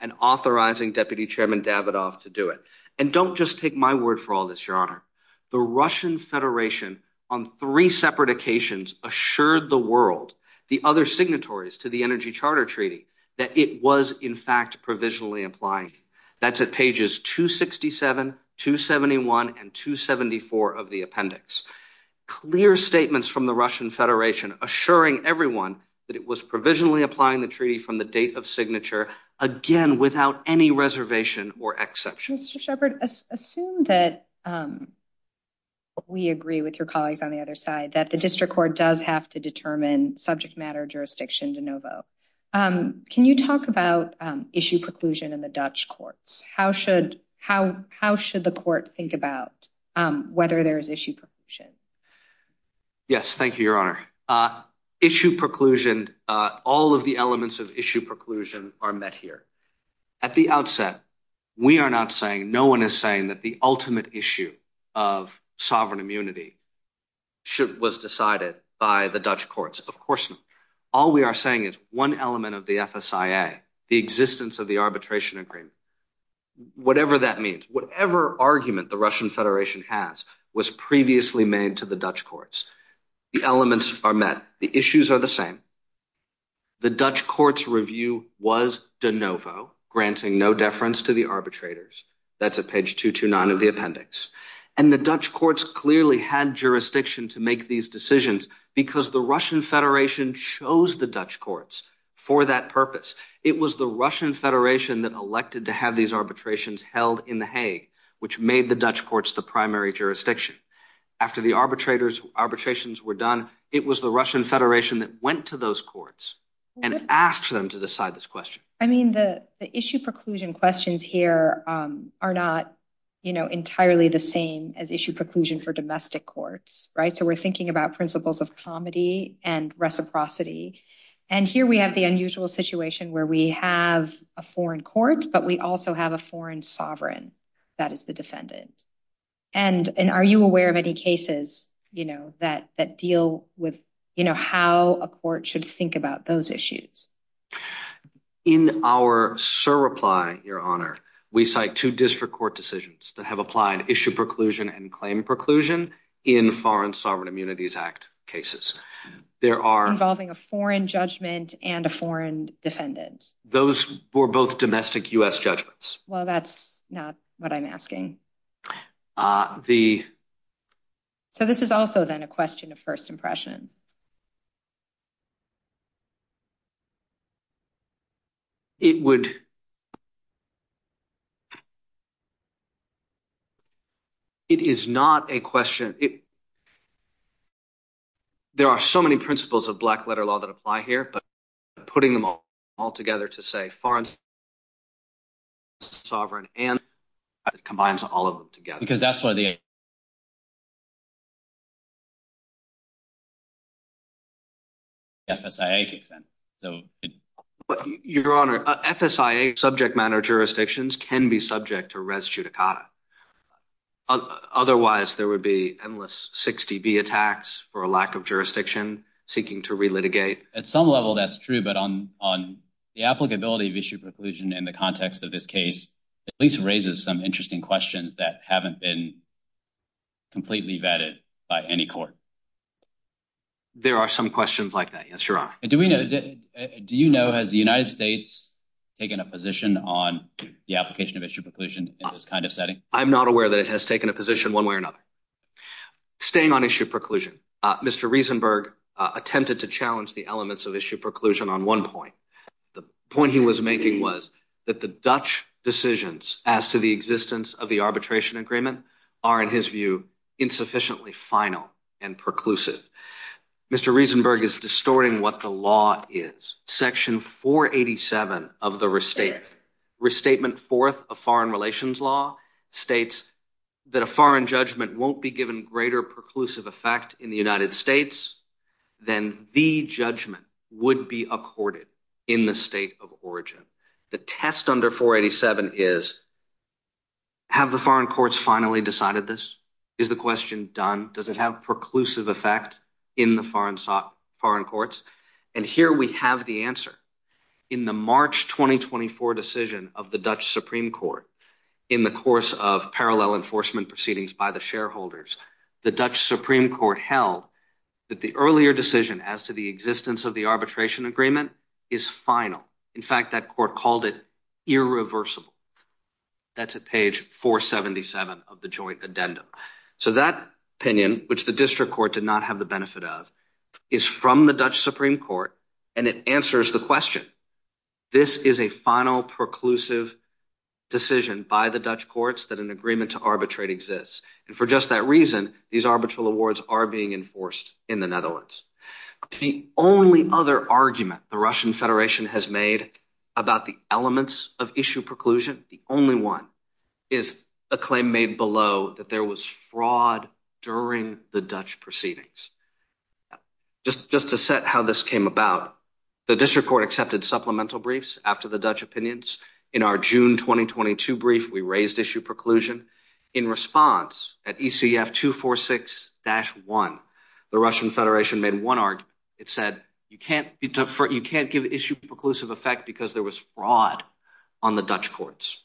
and authorizing Deputy Chairman Davidoff to do it. And don't just take my word for all this, Your Honor. The Russian Federation, on three separate occasions, assured the world, the other signatories to the Energy Charter Treaty, that it was, in fact, provisionally applying. That's at pages 267, 271, and 274 of the appendix. Clear statements from the Russian Federation assuring everyone that it was provisionally applying the treaty from the date of signature, again, without any reservation or exception. Mr. Shepherd, assume that we agree with your colleagues on the other side, that the District Court does have to determine subject matter jurisdiction de novo. Can you talk about issue preclusion in the Dutch courts? How should the court think about whether there is issue preclusion? Yes, thank you, Your Honor. Issue preclusion, all of the elements of issue preclusion are met here. At the outset, we are not saying, no one is saying that the ultimate issue of sovereign immunity was decided by the Dutch courts. All we are saying is one element of the FSIA, the existence of the arbitration agreement, whatever that means, whatever argument the Russian Federation has, was previously made to the Dutch courts. The elements are met. The issues are the same. The Dutch courts' review was de novo, granting no deference to the arbitrators. That's at page 229 of the appendix. And the Dutch courts clearly had jurisdiction to make these decisions because the Russian Federation chose the Dutch courts for that purpose. It was the Russian Federation that elected to have these arbitrations held in The Hague, which made the Dutch courts the primary jurisdiction. After the arbitrations were done, it was the Russian Federation that went to those courts and asked them to decide this question. I mean, the issue preclusion questions here are not entirely the same as issue preclusion for domestic courts, right? We're thinking about principles of comedy and reciprocity. Here we have the unusual situation where we have a foreign court, but we also have a foreign sovereign that is the defendant. Are you aware of any cases that deal with how a court should think about those issues? In our surreply, Your Honor, we cite two district court decisions that have applied issue preclusion and claim preclusion in Foreign Sovereign Immunities Act cases. Involving a foreign judgment and a foreign defendant. Those were both domestic U.S. judgments. Well, that's not what I'm asking. So this is also then a question of first impression. It would. It is not a question. There are so many principles of black letter law that apply here, but putting them all together to say foreign sovereign and combines all of them together. Because that's why the FSIA kicks in. Your Honor, FSIA subject matter jurisdictions can be subject to res judicata. Otherwise, there would be endless 60B attacks for a lack of jurisdiction seeking to relitigate. At some level, that's true. But on the applicability of issue preclusion in the context of this case, at least raises some interesting questions that haven't been completely vetted by any court. There are some questions like that. Yes, Your Honor. Do we know, do you know, has the United States taken a position on the application of issue preclusion in this kind of setting? I'm not aware that it has taken a position one way or another. Staying on issue preclusion. Mr. Riesenberg attempted to challenge the elements of issue preclusion on one point. The point he was making was that the Dutch decisions as to the existence of the arbitration agreement are, in his view, insufficiently final and preclusive. Mr. Riesenberg is distorting what the law is. Section 487 of the restatement, restatement fourth of foreign relations law, states that a foreign judgment won't be given greater preclusive effect in the United States than the judgment would be accorded in the state of origin. The test under 487 is, have the foreign courts finally decided this? Is the question done? Does it have preclusive effect in the foreign courts? And here we have the answer. In the March 2024 decision of the Dutch Supreme Court, in the course of parallel enforcement proceedings by the shareholders, the Dutch Supreme Court held that the earlier decision as to the existence of the arbitration agreement is final. In fact, that court called it irreversible. That's at page 477 of the joint addendum. So that opinion, which the district court did not have the benefit of, is from the Dutch Supreme Court, and it answers the question. This is a final preclusive decision by the Dutch courts that an agreement to arbitrate exists. And for just that reason, these arbitral awards are being enforced in the Netherlands. The only other argument the Russian Federation has made about the elements of issue preclusion, the only one is a claim made below that there was fraud during the Dutch proceedings. Just to set how this came about, the district court accepted supplemental briefs after the Dutch opinions. In our June 2022 brief, we raised issue preclusion. In response, at ECF 246-1, the Russian Federation made one argument. It said you can't give issue preclusive effect because there was fraud on the Dutch courts.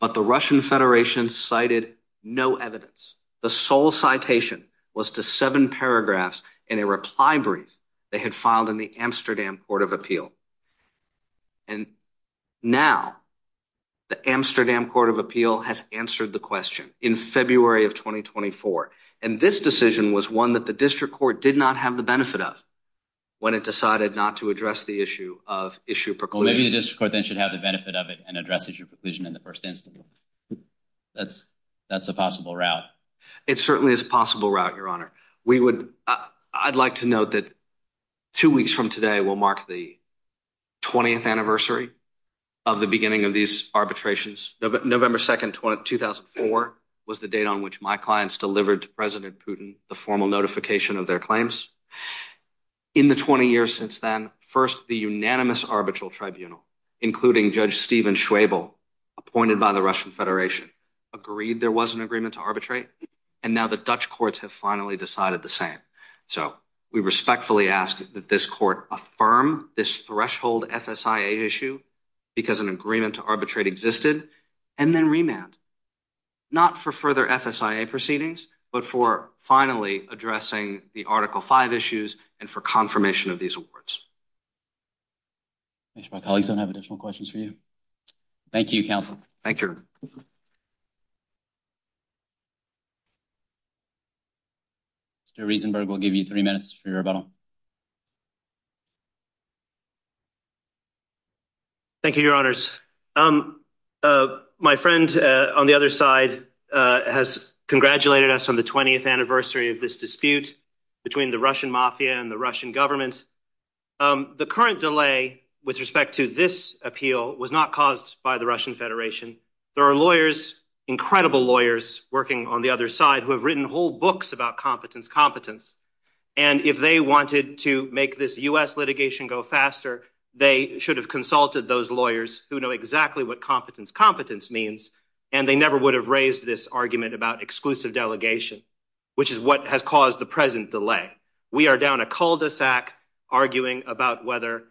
But the Russian Federation cited no evidence. The sole citation was to seven paragraphs in a reply brief they had filed in the Amsterdam Court of Appeal. And now, the Amsterdam Court of Appeal has answered the question in February of 2024. And this decision was one that the district court did not have the benefit of when it decided not to address the issue of issue preclusion. Maybe the district court then should have the benefit of it and address issue preclusion in the first instance. That's a possible route. It certainly is a possible route, Your Honor. I'd like to note that two weeks from today will mark the 20th anniversary of the beginning of these arbitrations. November 2nd, 2004 was the date on which my clients delivered to President Putin the formal notification of their claims. In the 20 years since then, first, the unanimous arbitral tribunal, including Judge Stephen Schwebel, appointed by the Russian Federation, agreed there was an agreement to arbitrate. And now the Dutch courts have finally decided the same. So we respectfully ask that this court affirm this threshold FSIA issue because an agreement to arbitrate existed, and then remand, not for further FSIA proceedings, but for finally addressing the Article V issues and for confirmation of these awards. Make sure my colleagues don't have additional questions for you. Thank you, counsel. Thank you. Mr. Riesenberg, we'll give you three minutes for your rebuttal. Thank you, Your Honors. Um, my friend on the other side has congratulated us on the 20th anniversary of this dispute between the Russian mafia and the Russian government. The current delay with respect to this appeal was not caused by the Russian Federation. There are lawyers, incredible lawyers, working on the other side who have written whole books about competence, competence. And if they wanted to make this U.S. litigation go faster, they should have consulted those lawyers who know exactly what competence, competence means. And they never would have raised this argument about exclusive delegation, which is what has caused the present delay. We are down a cul-de-sac arguing about whether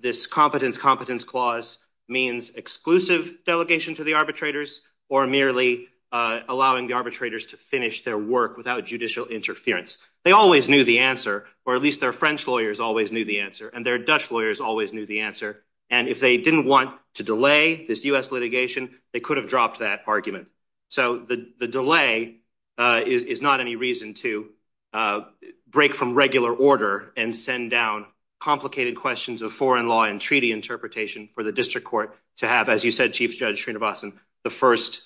this competence, competence clause means exclusive delegation to the arbitrators or merely allowing the arbitrators to finish their work without judicial interference. They always knew the answer, or at least their French lawyers always knew the answer, and their Dutch lawyers always knew the answer. And if they didn't want to delay this U.S. litigation, they could have dropped that argument. So the delay is not any reason to break from regular order and send down complicated questions of foreign law and treaty interpretation for the district court to have, as you said, Chief Judge Srinivasan, the first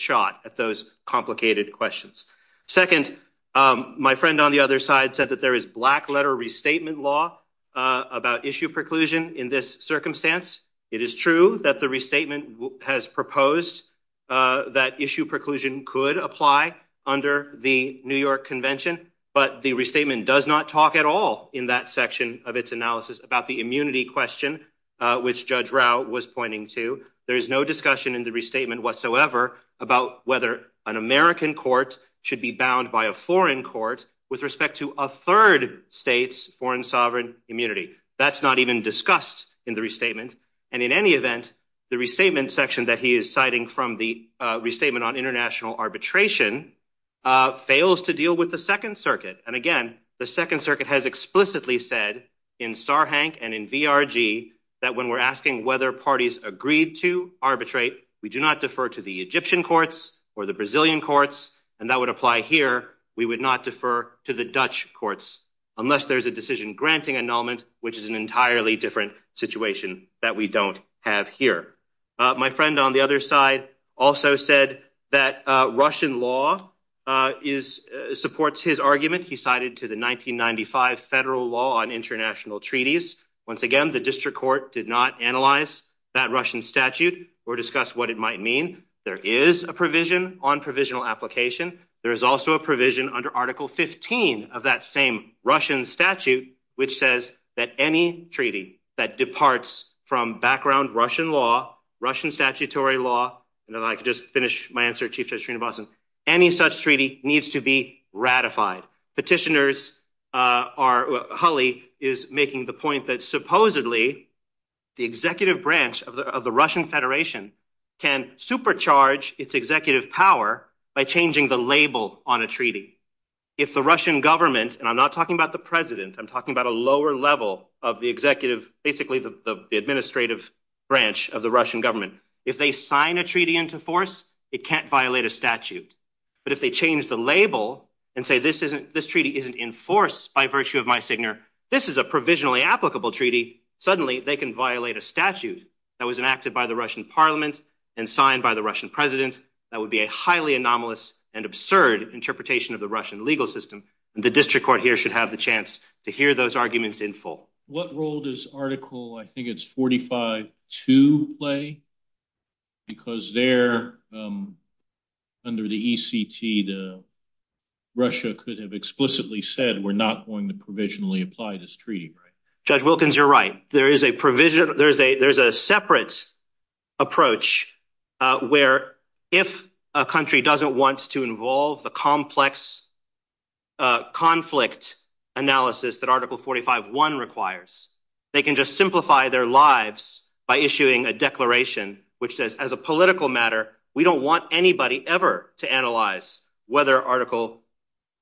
shot at those complicated questions. Second, my friend on the other side said that there is black-letter restatement law about issue preclusion in this circumstance. It is true that the restatement has proposed that issue preclusion could apply under the New York Convention, but the restatement does not talk at all in that section of its analysis about the immunity question, which Judge Rao was pointing to. There is no discussion in the restatement whatsoever about whether an American court should be bound by a foreign court with respect to a third state's foreign sovereign immunity. That's not even discussed in the restatement. And in any event, the restatement section that he is citing from the Restatement on International Arbitration fails to deal with the Second Circuit. And again, the Second Circuit has explicitly said in Sarhank and in VRG that when we're asking whether parties agreed to arbitrate, we do not defer to the Egyptian courts or the Brazilian courts. And that would apply here. We would not defer to the Dutch courts unless there's a decision granting annulment, which is an entirely different situation that we don't have here. My friend on the other side also said that Russian law supports his argument. He cited to the 1995 Federal Law on International Treaties. Once again, the district court did not analyze that Russian statute or discuss what it might mean. There is a provision on provisional application. There is also a provision under Article 15 of that same Russian statute which says that any treaty that departs from background Russian law, Russian statutory law, and then I could just finish my answer, Chief Justice Srinivasan. Any such treaty needs to be ratified. Petitioners, Hulley is making the point that supposedly the executive branch of the Russian Federation can supercharge its executive power by changing the label on a treaty. If the Russian government, and I'm not talking about the president, I'm talking about a lower level of the executive, basically the administrative branch of the Russian government. If they sign a treaty into force, it can't violate a statute. But if they change the label and say this treaty isn't enforced by virtue of my signature, this is a provisionally applicable treaty, suddenly they can violate a statute that was signed by the Russian parliament and signed by the Russian president. That would be a highly anomalous and absurd interpretation of the Russian legal system. The district court here should have the chance to hear those arguments in full. What role does Article, I think it's 45-2 play? Because there, under the ECT, Russia could have explicitly said we're not going to provisionally apply this treaty, right? Judge Wilkins, you're right. There is a provision, there's a separate approach where if a country doesn't want to involve the complex conflict analysis that Article 45-1 requires, they can just simplify their lives by issuing a declaration which says as a political matter, we don't want anybody ever to analyze whether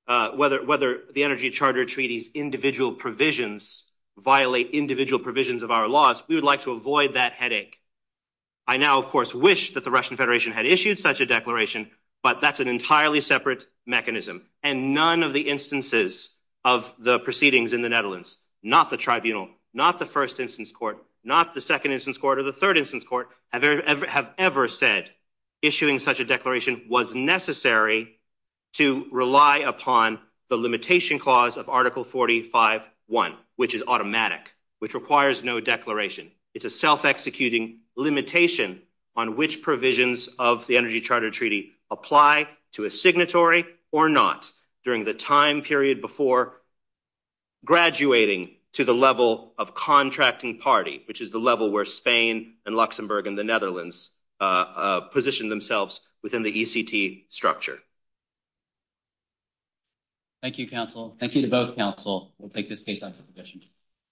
the Energy Charter Treaty's individual provisions violate individual provisions of our laws. We would like to avoid that headache. I now, of course, wish that the Russian Federation had issued such a declaration, but that's an entirely separate mechanism. And none of the instances of the proceedings in the Netherlands, not the tribunal, not the first instance court, not the second instance court or the third instance court, have ever said issuing such a declaration was necessary to rely upon the limitation clause of Article 45-1, which is automatic, which requires no declaration. It's a self-executing limitation on which provisions of the Energy Charter Treaty apply to a signatory or not during the time period before graduating to the level of contracting party, which is the level where Spain and Luxembourg and the Netherlands position themselves within the ECT structure. Thank you, counsel. Thank you to both counsel. We'll take this case up for questions.